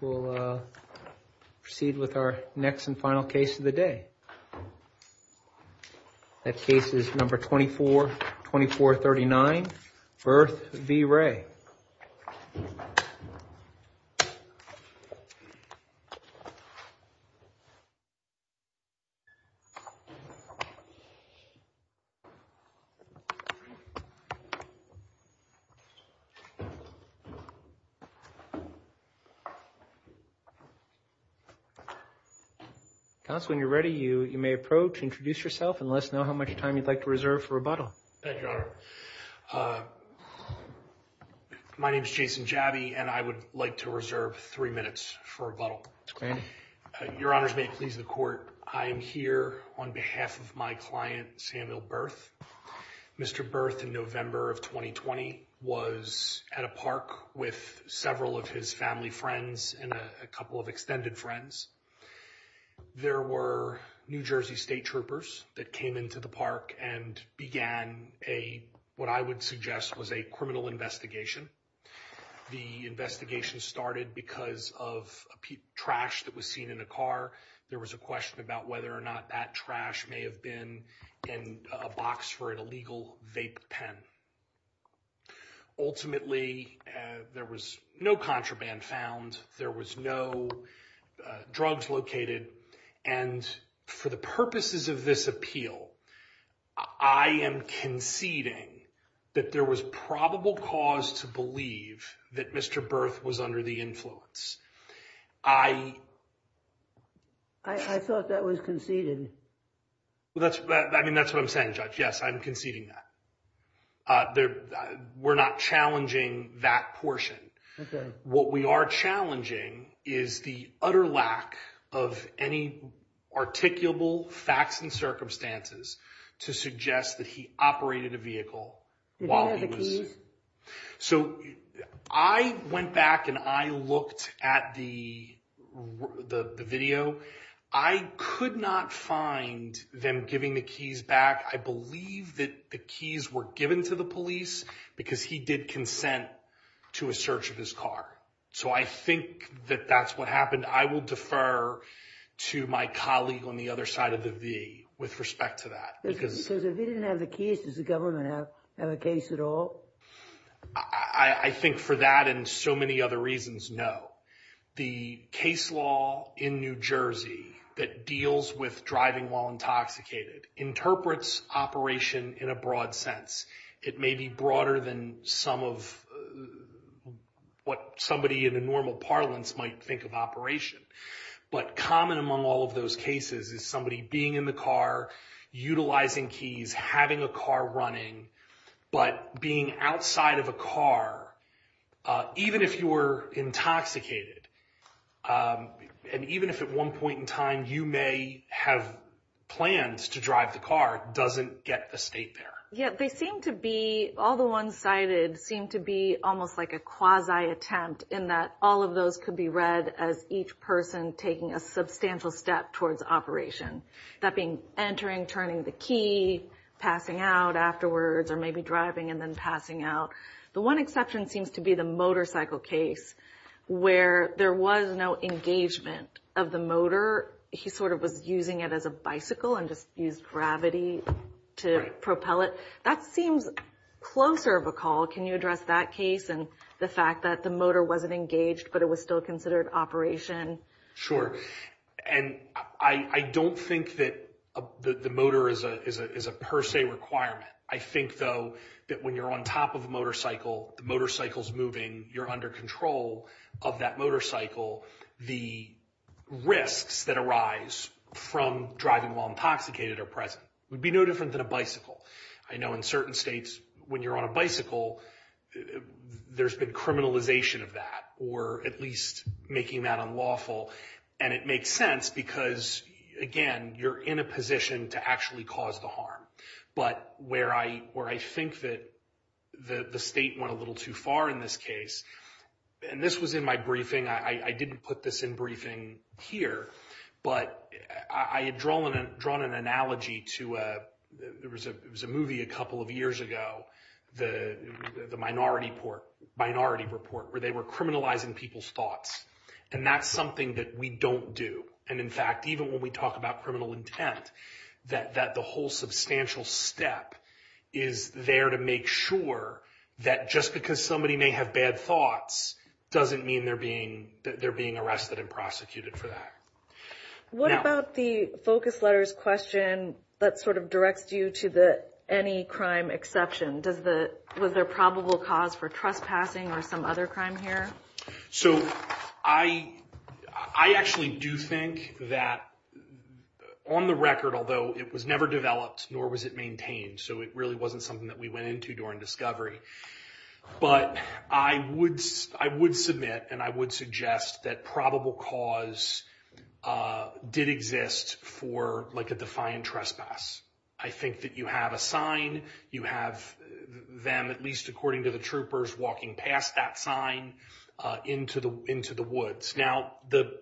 We'll proceed with our next and final case of the day. That case is number 24, 2439, Berth v. Ray. Counsel, when you're ready, you may approach, introduce yourself, and let us know how much time you'd like to reserve for rebuttal. Thank you, Your Honor. My name is Jason Jabi, and I would like to reserve three minutes for rebuttal. Your Honors, may it please the Court, I am here on behalf of my client, Samuel Berth. Mr. Berth, in November of 2020, was at a park with several of his family friends and a couple of extended friends. There were New Jersey State Troopers that came into the park and began what I would suggest was a criminal investigation. The investigation started because of trash that was seen in a car. There was a question about whether or not that trash may have been in a box for an illegal vape pen. Ultimately, there was no contraband found. There was no drugs located. And for the purposes of this appeal, I am conceding that there was probable cause to believe that Mr. Berth was under the influence. I thought that was conceded. I mean, that's what I'm saying, Judge. Yes, I'm conceding that. We're not challenging that portion. What we are challenging is the utter lack of any articulable facts and circumstances to suggest that he operated a vehicle while he was... So, I went back and I looked at the video. I could not find them giving the keys back. I believe that the keys were given to the police because he did consent to a search of his car. So, I think that that's what happened. I will defer to my colleague on the other side of the V with respect to that. Because if he didn't have the keys, does the government have a case at all? I think for that and so many other reasons, no. The case law in New Jersey that deals with driving while intoxicated interprets operation in a broad sense. It may be broader than some of what somebody in a normal parlance might think of operation. But common among all of those cases is somebody being in the car, utilizing keys, having a car running, but being outside of a car. Even if you were intoxicated and even if at one point in time you may have plans to drive the car, it doesn't get the state there. Yeah, they seem to be, all the ones cited, seem to be almost like a quasi attempt in that all of those could be read as each person taking a substantial step towards operation. That being entering, turning the key, passing out afterwards, or maybe driving and then passing out. The one exception seems to be the motorcycle case where there was no engagement of the motor. He sort of was using it as a bicycle and just used gravity to propel it. That seems closer of a call. Can you address that case and the fact that the motor wasn't engaged but it was still considered operation? Sure. And I don't think that the motor is a per se requirement. I think, though, that when you're on top of a motorcycle, the motorcycle's moving, you're under control of that motorcycle, the risks that arise from driving while intoxicated are present. It would be no different than a bicycle. I know in certain states when you're on a bicycle, there's been criminalization of that or at least making that unlawful. And it makes sense because, again, you're in a position to actually cause the harm. But where I think that the state went a little too far in this case, and this was in my briefing. I didn't put this in briefing here, but I had drawn an analogy to a movie a couple of years ago, the Minority Report, where they were criminalizing people's thoughts. And that's something that we don't do. And, in fact, even when we talk about criminal intent, that the whole substantial step is there to make sure that just because somebody may have bad thoughts doesn't mean they're being arrested and prosecuted for that. What about the focus letters question that sort of directs you to the any crime exception? Was there probable cause for trespassing or some other crime here? So I actually do think that on the record, although it was never developed nor was it maintained, so it really wasn't something that we went into during discovery. But I would submit and I would suggest that probable cause did exist for like a defiant trespass. I think that you have a sign. You have them, at least according to the troopers, walking past that sign into the woods. Now, the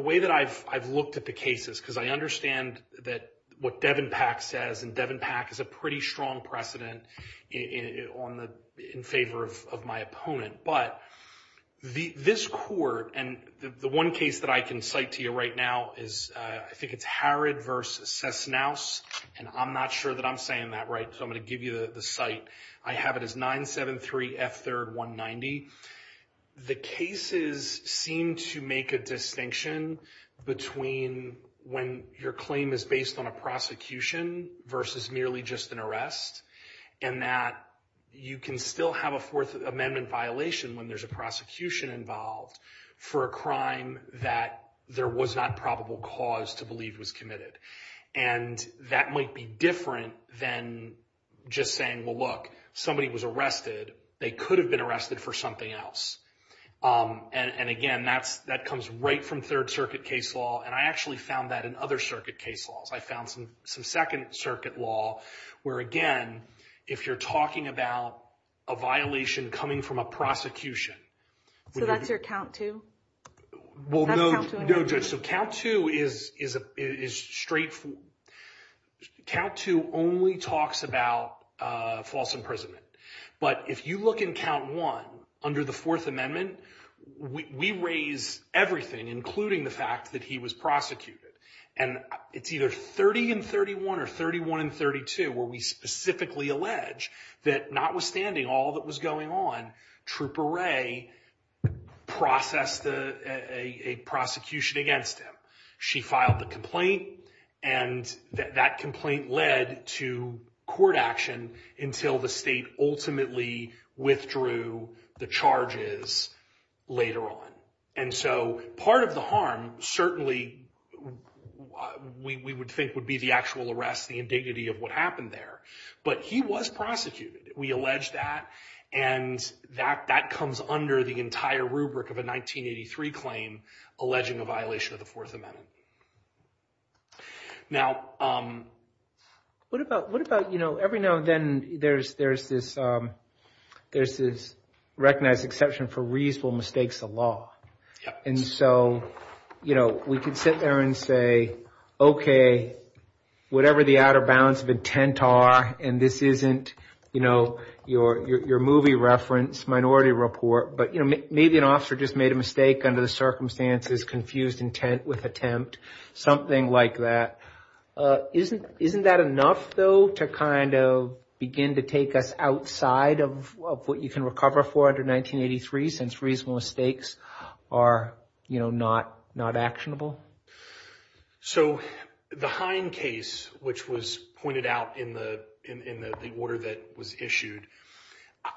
way that I've looked at the cases, because I understand that what Devin Pack says, and Devin Pack is a pretty strong precedent in favor of my opponent. But this court, and the one case that I can cite to you right now is I think it's Harrod v. Cessnaus. And I'm not sure that I'm saying that right. So I'm going to give you the site. I have it as 973 F3rd 190. The cases seem to make a distinction between when your claim is based on a prosecution versus merely just an arrest. And that you can still have a Fourth Amendment violation when there's a prosecution involved for a crime that there was not probable cause to believe was committed. And that might be different than just saying, well, look, somebody was arrested. They could have been arrested for something else. And, again, that comes right from Third Circuit case law. And I actually found that in other circuit case laws. I found some Second Circuit law where, again, if you're talking about a violation coming from a prosecution. So that's your count two? Well, no, Judge. So count two is straightforward. Count two only talks about false imprisonment. But if you look in count one, under the Fourth Amendment, we raise everything, including the fact that he was prosecuted. And it's either 30 and 31 or 31 and 32 where we specifically allege that notwithstanding all that was going on, Trooper Ray processed a prosecution against him. She filed the complaint. And that complaint led to court action until the state ultimately withdrew the charges later on. And so part of the harm certainly we would think would be the actual arrest, the indignity of what happened there. But he was prosecuted. We allege that. And that comes under the entire rubric of a 1983 claim alleging a violation of the Fourth Amendment. Now, what about, you know, every now and then there's this recognized exception for reasonable mistakes of law. And so, you know, we could sit there and say, okay, whatever the outer bounds of intent are, and this isn't, you know, your movie reference, minority report. But, you know, maybe an officer just made a mistake under the circumstances, confused intent with attempt, something like that. Isn't that enough, though, to kind of begin to take us outside of what you can recover for under 1983 since reasonable mistakes are, you know, not actionable? So the Hine case, which was pointed out in the order that was issued,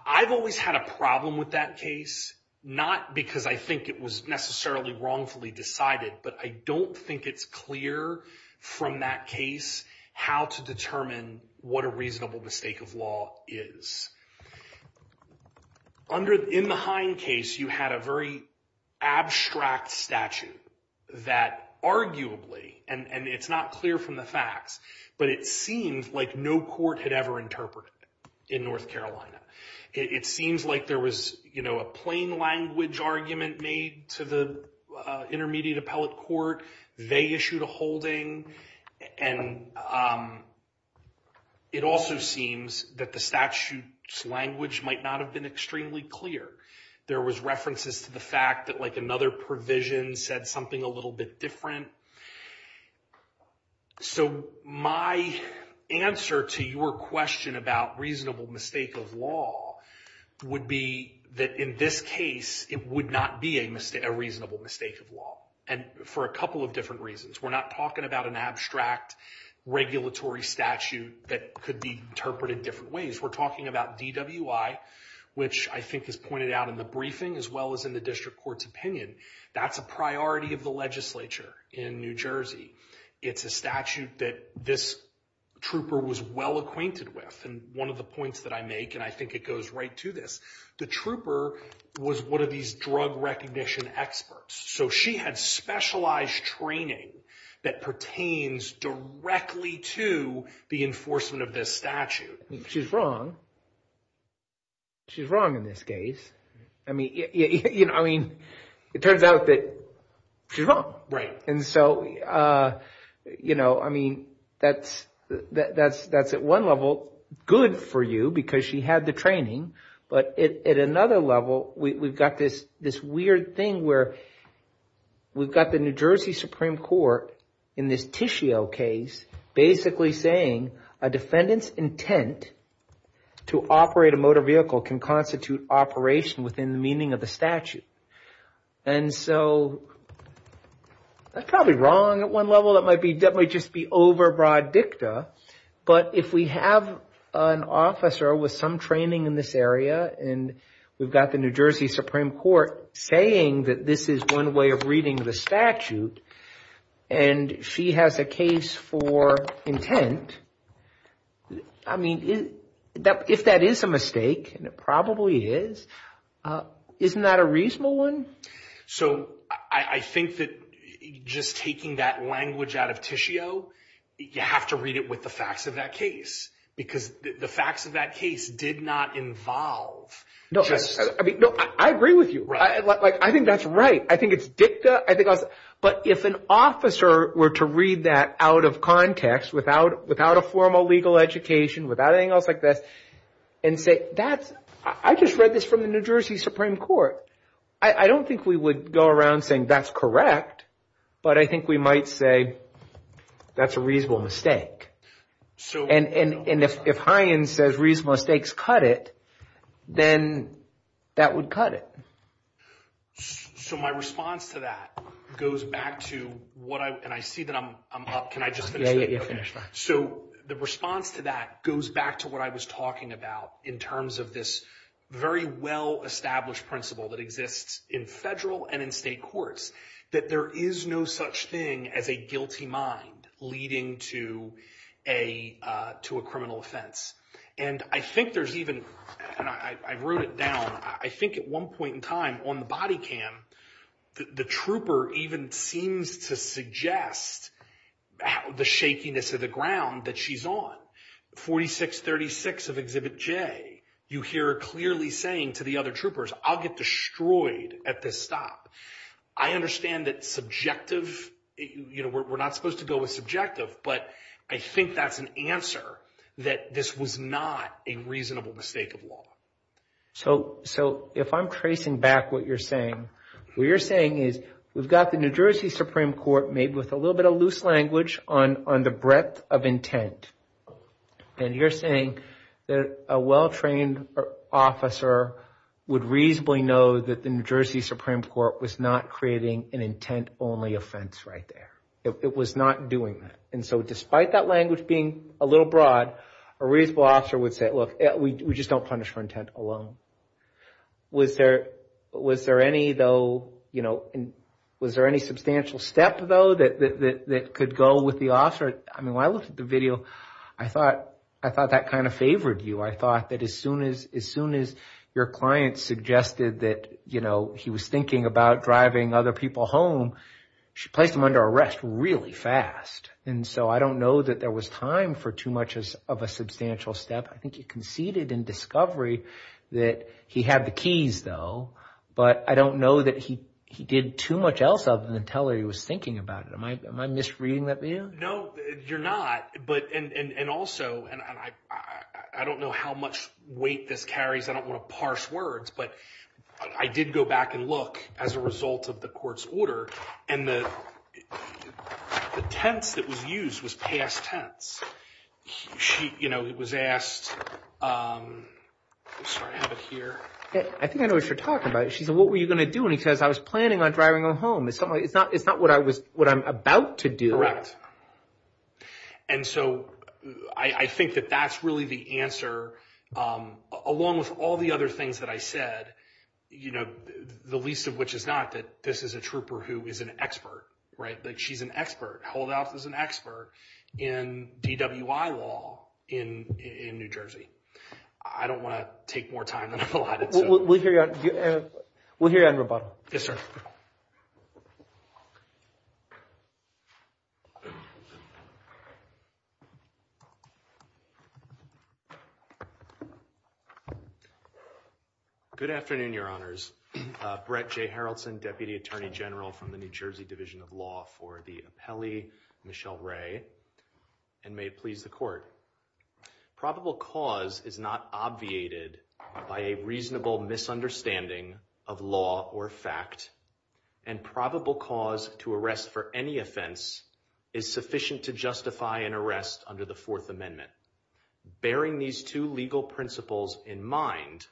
I've always had a problem with that case. Not because I think it was necessarily wrongfully decided, but I don't think it's clear from that case how to determine what a reasonable mistake of law is. In the Hine case, you had a very abstract statute that arguably, and it's not clear from the facts, but it seemed like no court had ever interpreted it in North Carolina. It seems like there was, you know, a plain language argument made to the intermediate appellate court. They issued a holding, and it also seems that the statute's language might not have been extremely clear. There was references to the fact that, like, another provision said something a little bit different. So my answer to your question about reasonable mistake of law would be that in this case it would not be a reasonable mistake of law. And for a couple of different reasons. We're not talking about an abstract regulatory statute that could be interpreted different ways. We're talking about DWI, which I think is pointed out in the briefing as well as in the district court's opinion. That's a priority of the legislature in New Jersey. It's a statute that this trooper was well acquainted with. And one of the points that I make, and I think it goes right to this, the trooper was one of these drug recognition experts. So she had specialized training that pertains directly to the enforcement of this statute. She's wrong. She's wrong in this case. I mean, you know, I mean, it turns out that she's wrong. And so, you know, I mean, that's at one level good for you because she had the training. But at another level, we've got this weird thing where we've got the New Jersey Supreme Court in this Tishio case, basically saying a defendant's intent to operate a motor vehicle can constitute operation within the meaning of the statute. And so that's probably wrong at one level. That might just be overbroad dicta. But if we have an officer with some training in this area and we've got the New Jersey Supreme Court saying that this is one way of reading the statute and she has a case for intent, I mean, if that is a mistake, and it probably is, isn't that a reasonable one? So I think that just taking that language out of Tishio, you have to read it with the facts of that case, because the facts of that case did not involve just... No, I mean, no, I agree with you. Right. Like, I think that's right. I think it's dicta. But if an officer were to read that out of context without a formal legal education, without anything else like this, and say, I just read this from the New Jersey Supreme Court. I don't think we would go around saying that's correct, but I think we might say that's a reasonable mistake. And if Hyens says reasonable mistakes cut it, then that would cut it. So my response to that goes back to what I... And I see that I'm up. Can I just finish? Yeah, yeah, yeah, finish. So the response to that goes back to what I was talking about in terms of this very well-established principle that exists in federal and in state courts, that there is no such thing as a guilty mind leading to a criminal offense. And I think there's even... And I wrote it down. I think at one point in time on the body cam, the trooper even seems to suggest the shakiness of the ground that she's on. 4636 of Exhibit J, you hear her clearly saying to the other troopers, I'll get destroyed at this stop. I understand that subjective... We're not supposed to go with subjective, but I think that's an answer that this was not a reasonable mistake of law. So if I'm tracing back what you're saying, what you're saying is we've got the New Jersey Supreme Court made with a little bit of loose language on the breadth of intent. And you're saying that a well-trained officer would reasonably know that the New Jersey Supreme Court was not creating an intent-only offense right there. It was not doing that. And so despite that language being a little broad, a reasonable officer would say, look, we just don't punish for intent alone. Was there any, though, you know, was there any substantial step, though, that could go with the officer? I mean, when I looked at the video, I thought that kind of favored you. I thought that as soon as your client suggested that, you know, he was thinking about driving other people home, she placed him under arrest really fast. And so I don't know that there was time for too much of a substantial step. I think you conceded in discovery that he had the keys, though. But I don't know that he did too much else other than tell her he was thinking about it. Am I misreading that video? No, you're not. And also, I don't know how much weight this carries. I don't want to parse words. But I did go back and look as a result of the court's order. And the tense that was used was past tense. She, you know, was asked, I'm sorry, I have it here. I think I know what you're talking about. She said, what were you going to do? And he says, I was planning on driving her home. It's not what I'm about to do. And so I think that that's really the answer, along with all the other things that I said, you know, the least of which is not that this is a trooper who is an expert, right? Like she's an expert, held out as an expert in DWI law in New Jersey. I don't want to take more time than I'm allotted. We'll hear you on rebuttal. Yes, sir. Good afternoon, Your Honors. Brett J. Harrelson, Deputy Attorney General from the New Jersey Division of Law for the appellee, Michelle Ray. And may it please the court. Probable cause is not obviated by a reasonable misunderstanding of law or fact. And probable cause to arrest for any offense is sufficient to justify an arrest under the Fourth Amendment. Bearing these two legal principles in mind,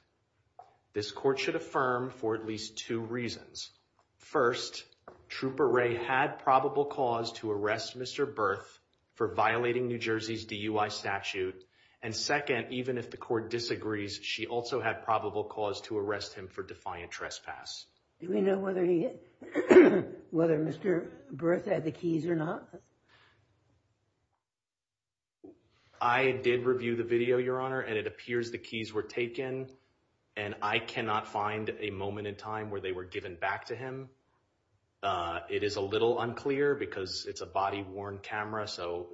this court should affirm for at least two reasons. First, Trooper Ray had probable cause to arrest Mr. Berth for violating New Jersey's DUI statute. And second, even if the court disagrees, she also had probable cause to arrest him for defiant trespass. Do we know whether Mr. Berth had the keys or not? I did review the video, Your Honor, and it appears the keys were taken. And I cannot find a moment in time where they were given back to him. It is a little unclear because it's a body-worn camera, so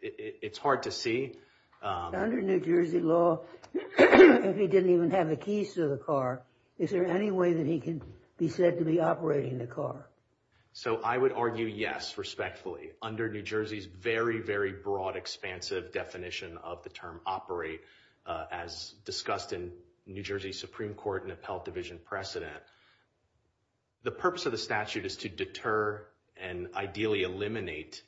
it's hard to see. Under New Jersey law, if he didn't even have the keys to the car, is there any way that he can be said to be operating the car? So I would argue yes, respectfully. Under New Jersey's very, very broad, expansive definition of the term operate, as discussed in New Jersey Supreme Court and Appellate Division precedent, the purpose of the statute is to deter and ideally eliminate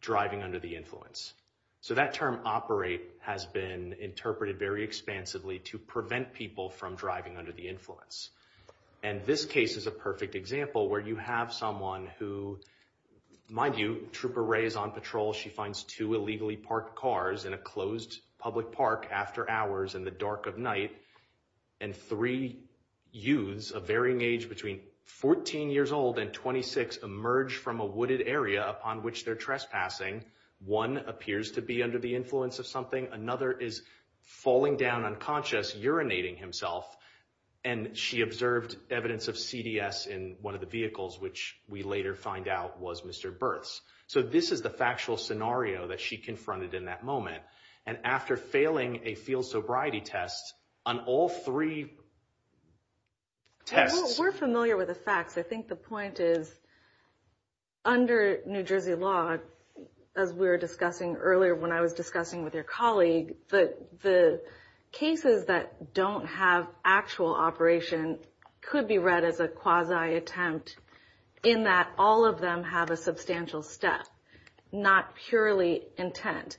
driving under the influence. So that term operate has been interpreted very expansively to prevent people from driving under the influence. And this case is a perfect example where you have someone who, mind you, Trooper Ray is on patrol. She finds two illegally parked cars in a closed public park after hours in the dark of night. And three youths of varying age between 14 years old and 26 emerge from a wooded area upon which they're trespassing. One appears to be under the influence of something. Another is falling down unconscious, urinating himself. And she observed evidence of CDS in one of the vehicles, which we later find out was Mr. Berth's. So this is the factual scenario that she confronted in that moment. And after failing a field sobriety test on all three tests. We're familiar with the facts. I think the point is, under New Jersey law, as we were discussing earlier when I was discussing with your colleague, the cases that don't have actual operation could be read as a quasi attempt in that all of them have a substantial step, not purely intent.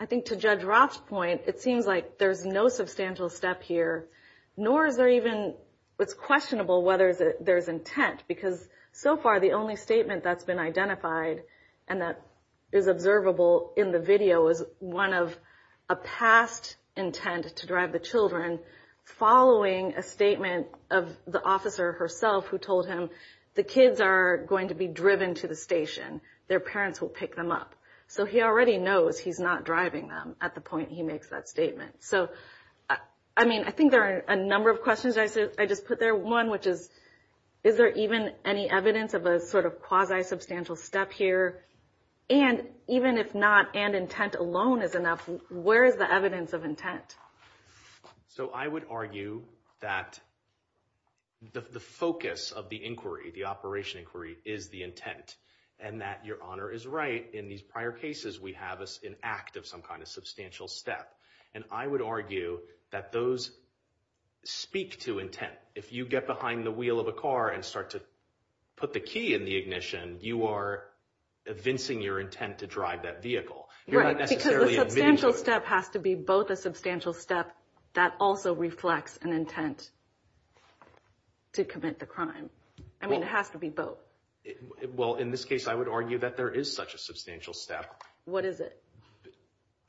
I think to Judge Roth's point, it seems like there's no substantial step here. Nor is there even, it's questionable whether there's intent. Because so far, the only statement that's been identified and that is observable in the video is one of a past intent to drive the children. Following a statement of the officer herself who told him the kids are going to be driven to the station. Their parents will pick them up. So he already knows he's not driving them at the point he makes that statement. So, I mean, I think there are a number of questions. I just put there one, which is, is there even any evidence of a sort of quasi-substantial step here? And even if not, and intent alone is enough, where is the evidence of intent? So I would argue that the focus of the inquiry, the operation inquiry, is the intent. And that Your Honor is right. In these prior cases, we have an act of some kind of substantial step. And I would argue that those speak to intent. If you get behind the wheel of a car and start to put the key in the ignition, you are evincing your intent to drive that vehicle. You're not necessarily admitting to it. Right, because the substantial step has to be both a substantial step that also reflects an intent to commit the crime. I mean, it has to be both. Well, in this case, I would argue that there is such a substantial step. What is it?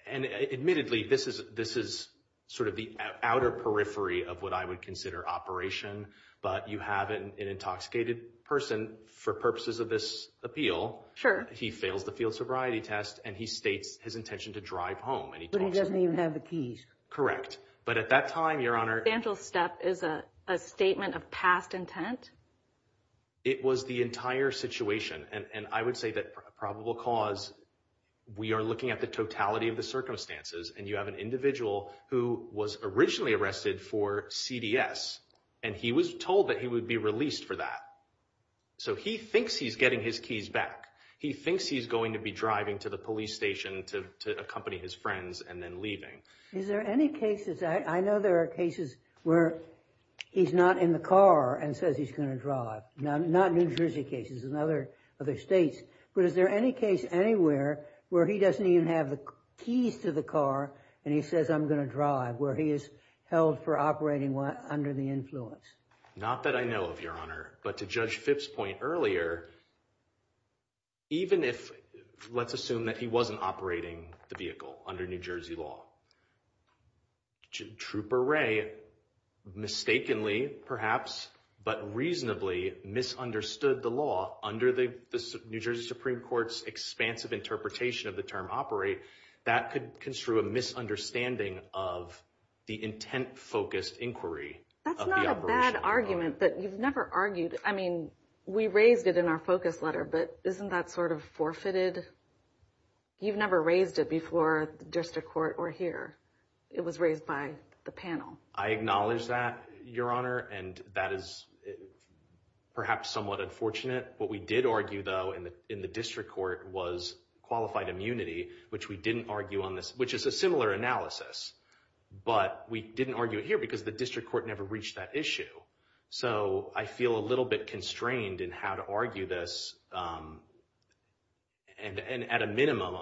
And admittedly, this is sort of the outer periphery of what I would consider operation. But you have an intoxicated person for purposes of this appeal. Sure. He fails the field sobriety test, and he states his intention to drive home. But he doesn't even have the keys. Correct. But at that time, Your Honor— A substantial step is a statement of past intent? It was the entire situation. And I would say that probable cause, we are looking at the totality of the circumstances. And you have an individual who was originally arrested for CDS, and he was told that he would be released for that. So he thinks he's getting his keys back. He thinks he's going to be driving to the police station to accompany his friends and then leaving. Is there any cases—I know there are cases where he's not in the car and says he's going to drive. Not New Jersey cases, in other states. But is there any case anywhere where he doesn't even have the keys to the car and he says, I'm going to drive, where he is held for operating under the influence? Not that I know of, Your Honor. But to Judge Phipps' point earlier, even if—let's assume that he wasn't operating the vehicle under New Jersey law. Trooper Wray mistakenly, perhaps, but reasonably misunderstood the law under the New Jersey Supreme Court's expansive interpretation of the term operate. That could construe a misunderstanding of the intent-focused inquiry of the operation. That's not a bad argument, but you've never argued—I mean, we raised it in our focus letter. But isn't that sort of forfeited? You've never raised it before the district court or here. It was raised by the panel. I acknowledge that, Your Honor, and that is perhaps somewhat unfortunate. What we did argue, though, in the district court was qualified immunity, which we didn't argue on this— which is a similar analysis. But we didn't argue it here because the district court never reached that issue. So I feel a little bit constrained in how to argue this. And at a minimum,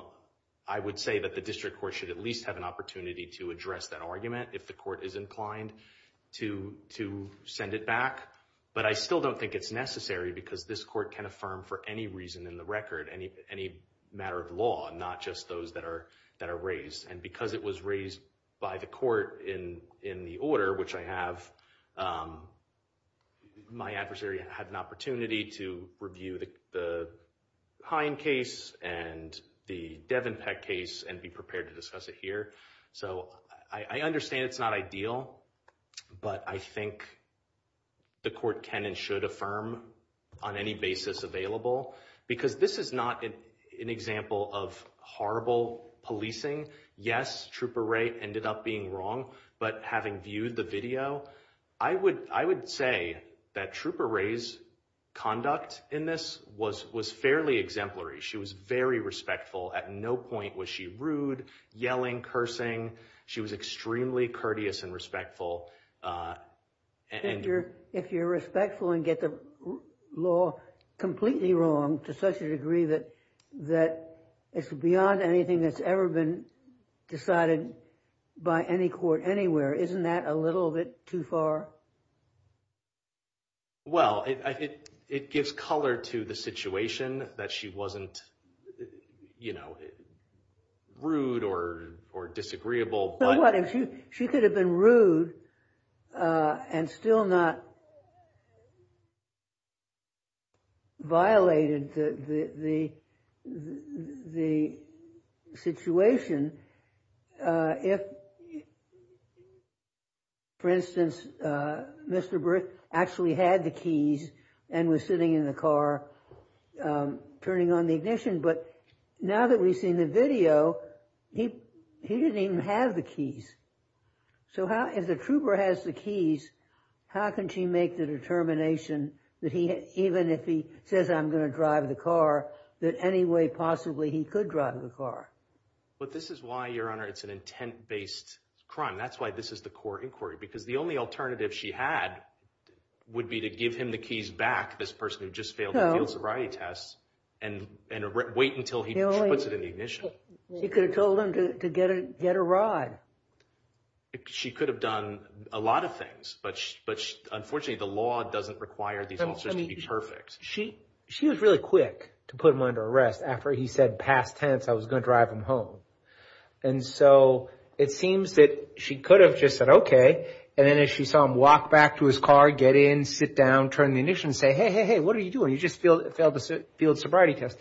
I would say that the district court should at least have an opportunity to address that argument if the court is inclined to send it back. But I still don't think it's necessary because this court can affirm for any reason in the record any matter of law, not just those that are raised. And because it was raised by the court in the order, which I have, my adversary had an opportunity to review the Hine case and the Devenpeck case and be prepared to discuss it here. So I understand it's not ideal, but I think the court can and should affirm on any basis available because this is not an example of horrible policing. Yes, Trooper Ray ended up being wrong, but having viewed the video, I would say that Trooper Ray's conduct in this was fairly exemplary. She was very respectful. At no point was she rude, yelling, cursing. She was extremely courteous and respectful. If you're respectful and get the law completely wrong to such a degree that it's beyond anything that's ever been decided by any court anywhere, isn't that a little bit too far? Well, it gives color to the situation that she wasn't rude or disagreeable. She could have been rude and still not violated the situation if, for instance, Mr. Brick actually had the keys and was sitting in the car turning on the ignition. But now that we've seen the video, he didn't even have the keys. So if the trooper has the keys, how can she make the determination that even if he says, I'm going to drive the car, that any way possibly he could drive the car? But this is why, Your Honor, it's an intent-based crime. That's why this is the court inquiry because the only alternative she had would be to give him the keys back, this person who just failed the field sobriety test, and wait until he puts it in the ignition. She could have told him to get a rod. She could have done a lot of things. But unfortunately, the law doesn't require these officers to be perfect. She was really quick to put him under arrest after he said past tense, I was going to drive him home. And so it seems that she could have just said, okay. And then if she saw him walk back to his car, get in, sit down, turn the ignition, say, hey, hey, hey, what are you doing? You just failed the field sobriety test.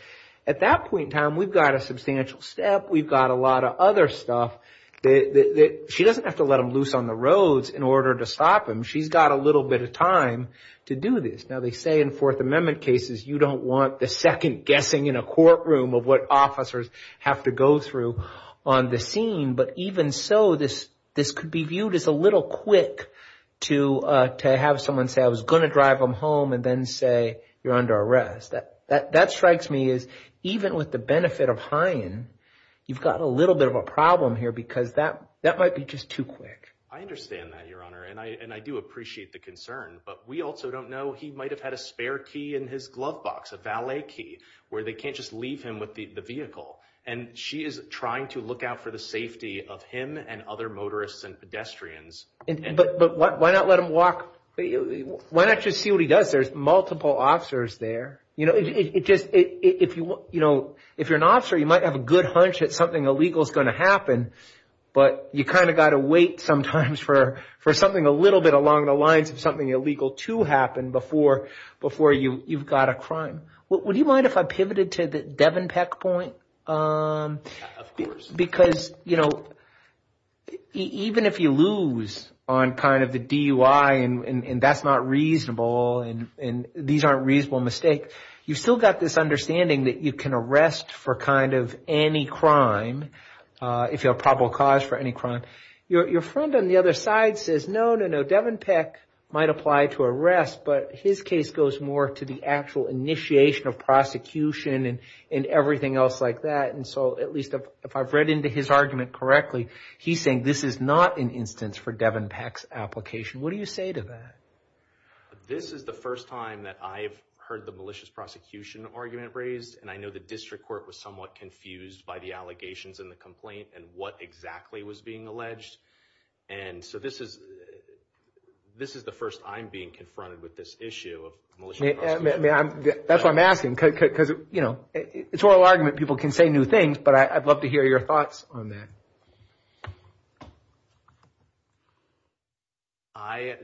At that point in time, we've got a substantial step. We've got a lot of other stuff. She doesn't have to let him loose on the roads in order to stop him. She's got a little bit of time to do this. Now, they say in Fourth Amendment cases you don't want the second guessing in a courtroom of what officers have to go through on the scene. But even so, this could be viewed as a little quick to have someone say, I was going to drive him home, and then say, you're under arrest. That strikes me as even with the benefit of hiring, you've got a little bit of a problem here because that might be just too quick. I understand that, Your Honor, and I do appreciate the concern. But we also don't know. He might have had a spare key in his glove box, a valet key, where they can't just leave him with the vehicle. And she is trying to look out for the safety of him and other motorists and pedestrians. But why not let him walk? Why not just see what he does? There's multiple officers there. If you're an officer, you might have a good hunch that something illegal is going to happen. But you kind of got to wait sometimes for something a little bit along the lines of something illegal to happen before you've got a crime. Would you mind if I pivoted to the Devin Peck point? Of course. Because, you know, even if you lose on kind of the DUI and that's not reasonable and these aren't reasonable mistakes, you've still got this understanding that you can arrest for kind of any crime if you have a probable cause for any crime. Your friend on the other side says, no, no, no, Devin Peck might apply to arrest, but his case goes more to the actual initiation of prosecution and everything else like that. And so at least if I've read into his argument correctly, he's saying this is not an instance for Devin Peck's application. What do you say to that? This is the first time that I've heard the malicious prosecution argument raised. And I know the district court was somewhat confused by the allegations in the complaint and what exactly was being alleged. And so this is the first I'm being confronted with this issue of malicious prosecution. That's what I'm asking because, you know, it's an oral argument. People can say new things, but I'd love to hear your thoughts on that. I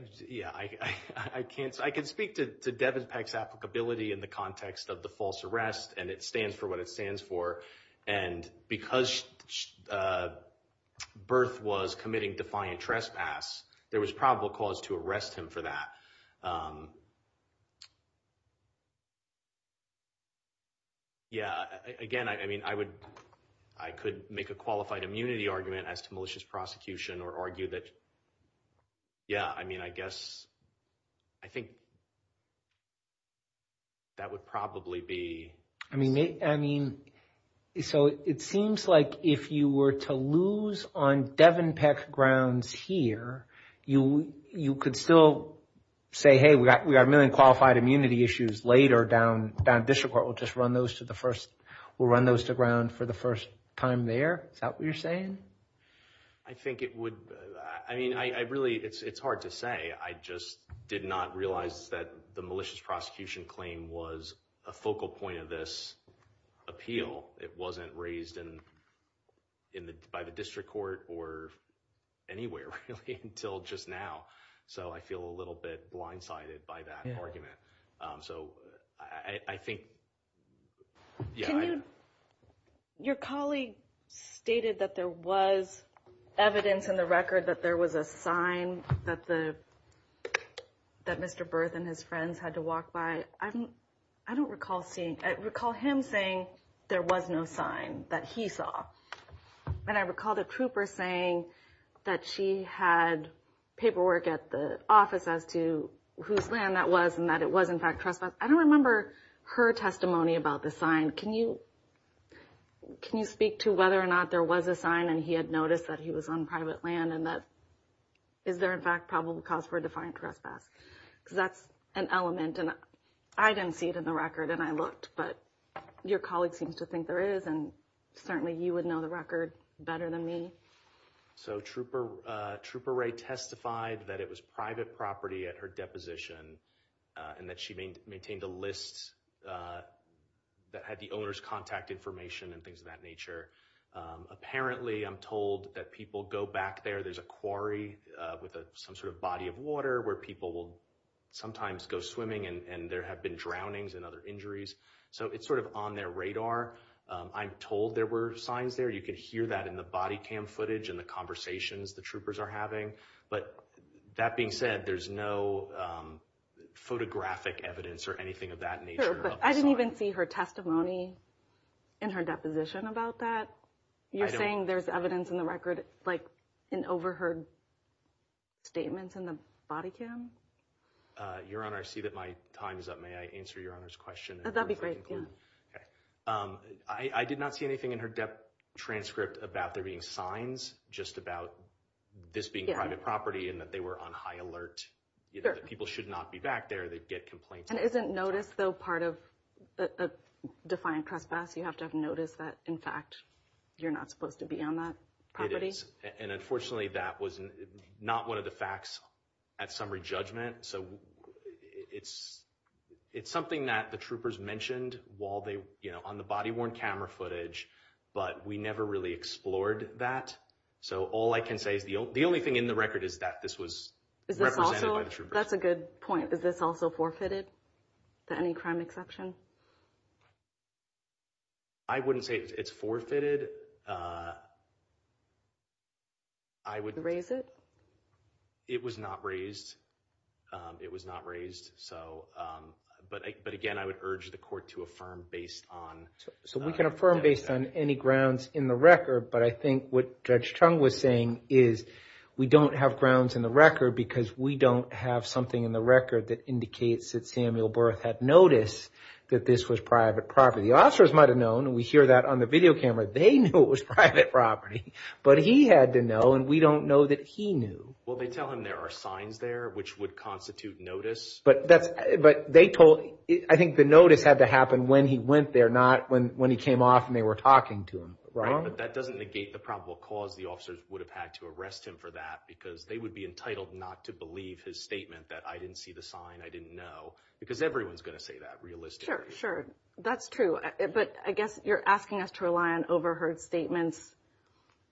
can speak to Devin Peck's applicability in the context of the false arrest, and it stands for what it stands for. And because Berth was committing defiant trespass, there was probable cause to arrest him for that. Yeah, again, I mean, I could make a qualified immunity argument as to malicious prosecution or argue that, yeah, I mean, I guess I think that would probably be. I mean, so it seems like if you were to lose on Devin Peck grounds here, you could still say, hey, we got a million qualified immunity issues later down district court. We'll just run those to the first. We'll run those to ground for the first time there. Is that what you're saying? I think it would. I mean, I really, it's hard to say. I just did not realize that the malicious prosecution claim was a focal point of this appeal. It wasn't raised by the district court or anywhere until just now. So I feel a little bit blindsided by that argument. So I think, yeah. Your colleague stated that there was evidence in the record that there was a sign that Mr. Berth and his friends had to walk by. I don't recall seeing, I recall him saying there was no sign that he saw. And I recall the trooper saying that she had paperwork at the office as to whose land that was and that it was, in fact, trespass. I don't remember her testimony about the sign. Can you speak to whether or not there was a sign and he had noticed that he was on private land and that is there, in fact, probable cause for a defiant trespass? Because that's an element, and I didn't see it in the record, and I looked. But your colleague seems to think there is, and certainly you would know the record better than me. So Trooper Ray testified that it was private property at her deposition and that she maintained a list that had the owner's contact information and things of that nature. Apparently, I'm told that people go back there. There's a quarry with some sort of body of water where people will sometimes go swimming, and there have been drownings and other injuries. So it's sort of on their radar. I'm told there were signs there. You can hear that in the body cam footage and the conversations the troopers are having. But that being said, there's no photographic evidence or anything of that nature. Sure, but I didn't even see her testimony in her deposition about that. You're saying there's evidence in the record, like in overheard statements in the body cam? Your Honor, I see that my time is up. May I answer Your Honor's question? That would be great. I did not see anything in her transcript about there being signs just about this being private property and that they were on high alert, that people should not be back there, they'd get complaints. And isn't notice, though, part of a defiant trespass? You have to have notice that, in fact, you're not supposed to be on that property? It is, and unfortunately that was not one of the facts at summary judgment. So it's something that the troopers mentioned on the body-worn camera footage, but we never really explored that. So all I can say is the only thing in the record is that this was represented by the troopers. That's a good point. Is this also forfeited to any crime exception? I wouldn't say it's forfeited. Raise it? It was not raised. It was not raised. But again, I would urge the court to affirm based on evidence. So we can affirm based on any grounds in the record, but I think what Judge Chung was saying is we don't have grounds in the record because we don't have something in the record that indicates that Samuel Berth had notice that this was private property. The officers might have known, and we hear that on the video camera. They knew it was private property, but he had to know, and we don't know that he knew. Well, they tell him there are signs there which would constitute notice. But they told – I think the notice had to happen when he went there, not when he came off and they were talking to him. Right, but that doesn't negate the probable cause the officers would have had to arrest him for that because they would be entitled not to believe his statement that I didn't see the sign, I didn't know, because everyone's going to say that realistically. Sure, sure. That's true. But I guess you're asking us to rely on overheard statements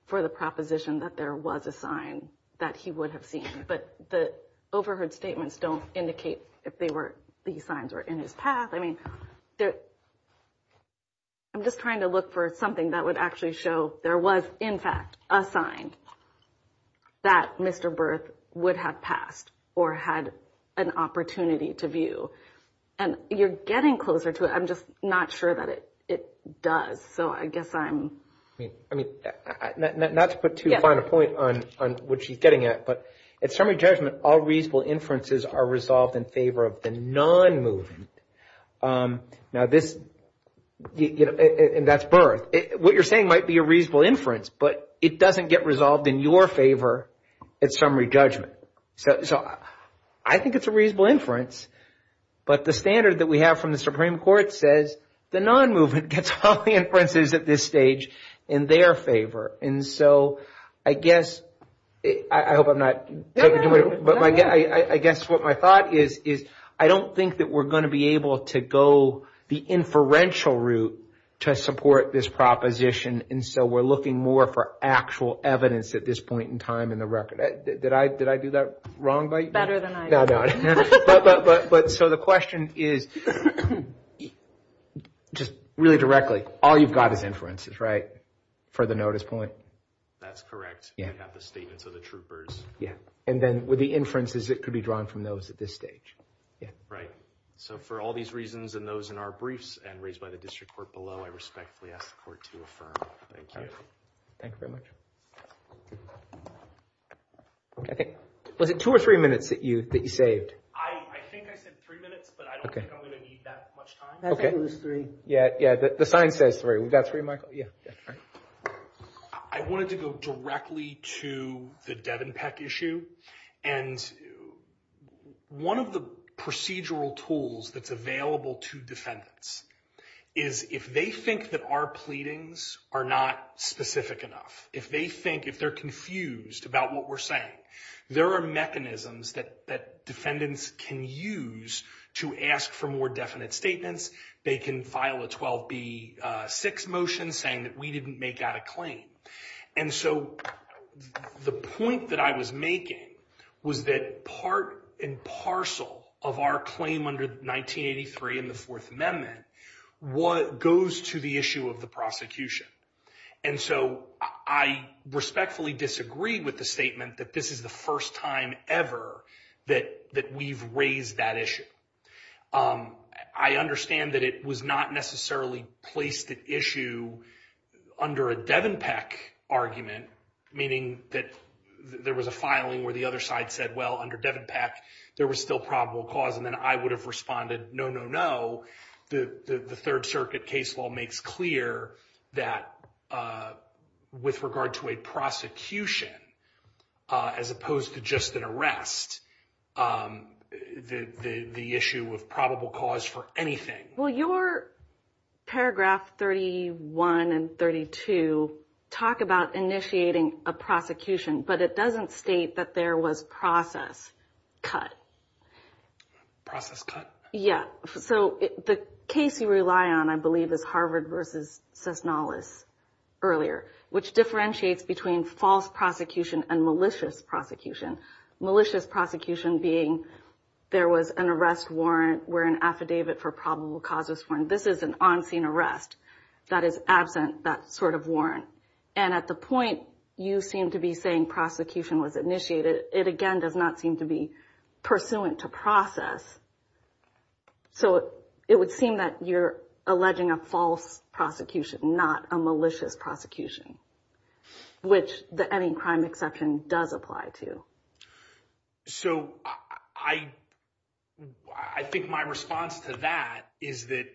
for the proposition that there was a sign that he would have seen, but the overheard statements don't indicate if these signs were in his path. I mean, I'm just trying to look for something that would actually show there was, in fact, a sign that Mr. Berth would have passed or had an opportunity to view. And you're getting closer to it. I'm just not sure that it does. So I guess I'm – I mean, not to put too fine a point on what she's getting at, but at summary judgment, all reasonable inferences are resolved in favor of the non-movement. Now, this – and that's Berth. What you're saying might be a reasonable inference, but it doesn't get resolved in your favor at summary judgment. So I think it's a reasonable inference, but the standard that we have from the Supreme Court says the non-movement gets all the inferences at this stage in their favor. And so I guess – I hope I'm not taking too much – but I guess what my thought is is I don't think that we're going to be able to go the inferential route to support this proposition, and so we're looking more for actual evidence at this point in time in the record. Did I do that wrong by you? Better than I did. No, no. But – so the question is, just really directly, all you've got is inferences, right, for the notice point? That's correct. Yeah. We have the statements of the troopers. Yeah. And then with the inferences, it could be drawn from those at this stage. Yeah. Right. So for all these reasons and those in our briefs and raised by the district court below, I respectfully ask the court to affirm. Thank you. Thank you very much. Was it two or three minutes that you saved? I think I said three minutes, but I don't think I'm going to need that much time. I think it was three. Yeah. The sign says three. We've got three, Michael? Yeah. I wanted to go directly to the Devon Peck issue, and one of the procedural tools that's available to defendants is if they think that our pleadings are not specific enough, if they think, if they're confused about what we're saying, there are mechanisms that defendants can use to ask for more definite statements. They can file a 12B6 motion saying that we didn't make out a claim. And so the point that I was making was that part and parcel of our claim under 1983 and the Fourth Amendment goes to the issue of the prosecution. And so I respectfully disagree with the statement that this is the first time ever that we've raised that issue. I understand that it was not necessarily placed at issue under a Devon Peck argument, meaning that there was a filing where the other side said, well, under Devon Peck there was still probable cause, and then I would have responded, no, no, no. The Third Circuit case law makes clear that with regard to a prosecution, as opposed to just an arrest, the issue of probable cause for anything. Well, your paragraph 31 and 32 talk about initiating a prosecution, but it doesn't state that there was process cut. Process cut? Yeah. So the case you rely on, I believe, is Harvard versus Cisnallis earlier, which differentiates between false prosecution and malicious prosecution. Malicious prosecution being there was an arrest warrant where an affidavit for probable cause was formed. This is an on-scene arrest that is absent that sort of warrant. And at the point you seem to be saying prosecution was initiated, it again does not seem to be pursuant to process. So it would seem that you're alleging a false prosecution, not a malicious prosecution, which the ending crime exception does apply to. So I think my response to that is that,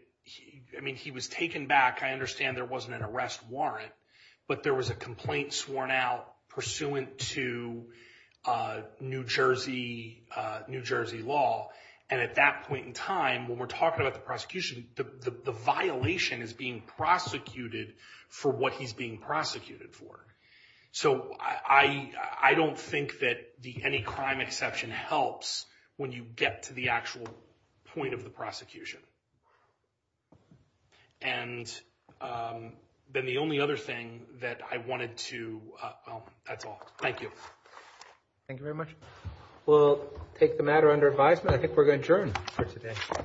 I mean, he was taken back. I understand there wasn't an arrest warrant, but there was a complaint sworn out pursuant to New Jersey law. And at that point in time, when we're talking about the prosecution, the violation is being prosecuted for what he's being prosecuted for. So I don't think that the ending crime exception helps when you get to the actual point of the prosecution. And then the only other thing that I wanted to—well, that's all. Thank you. Thank you very much. We'll take the matter under advisement. I think we're adjourned for today.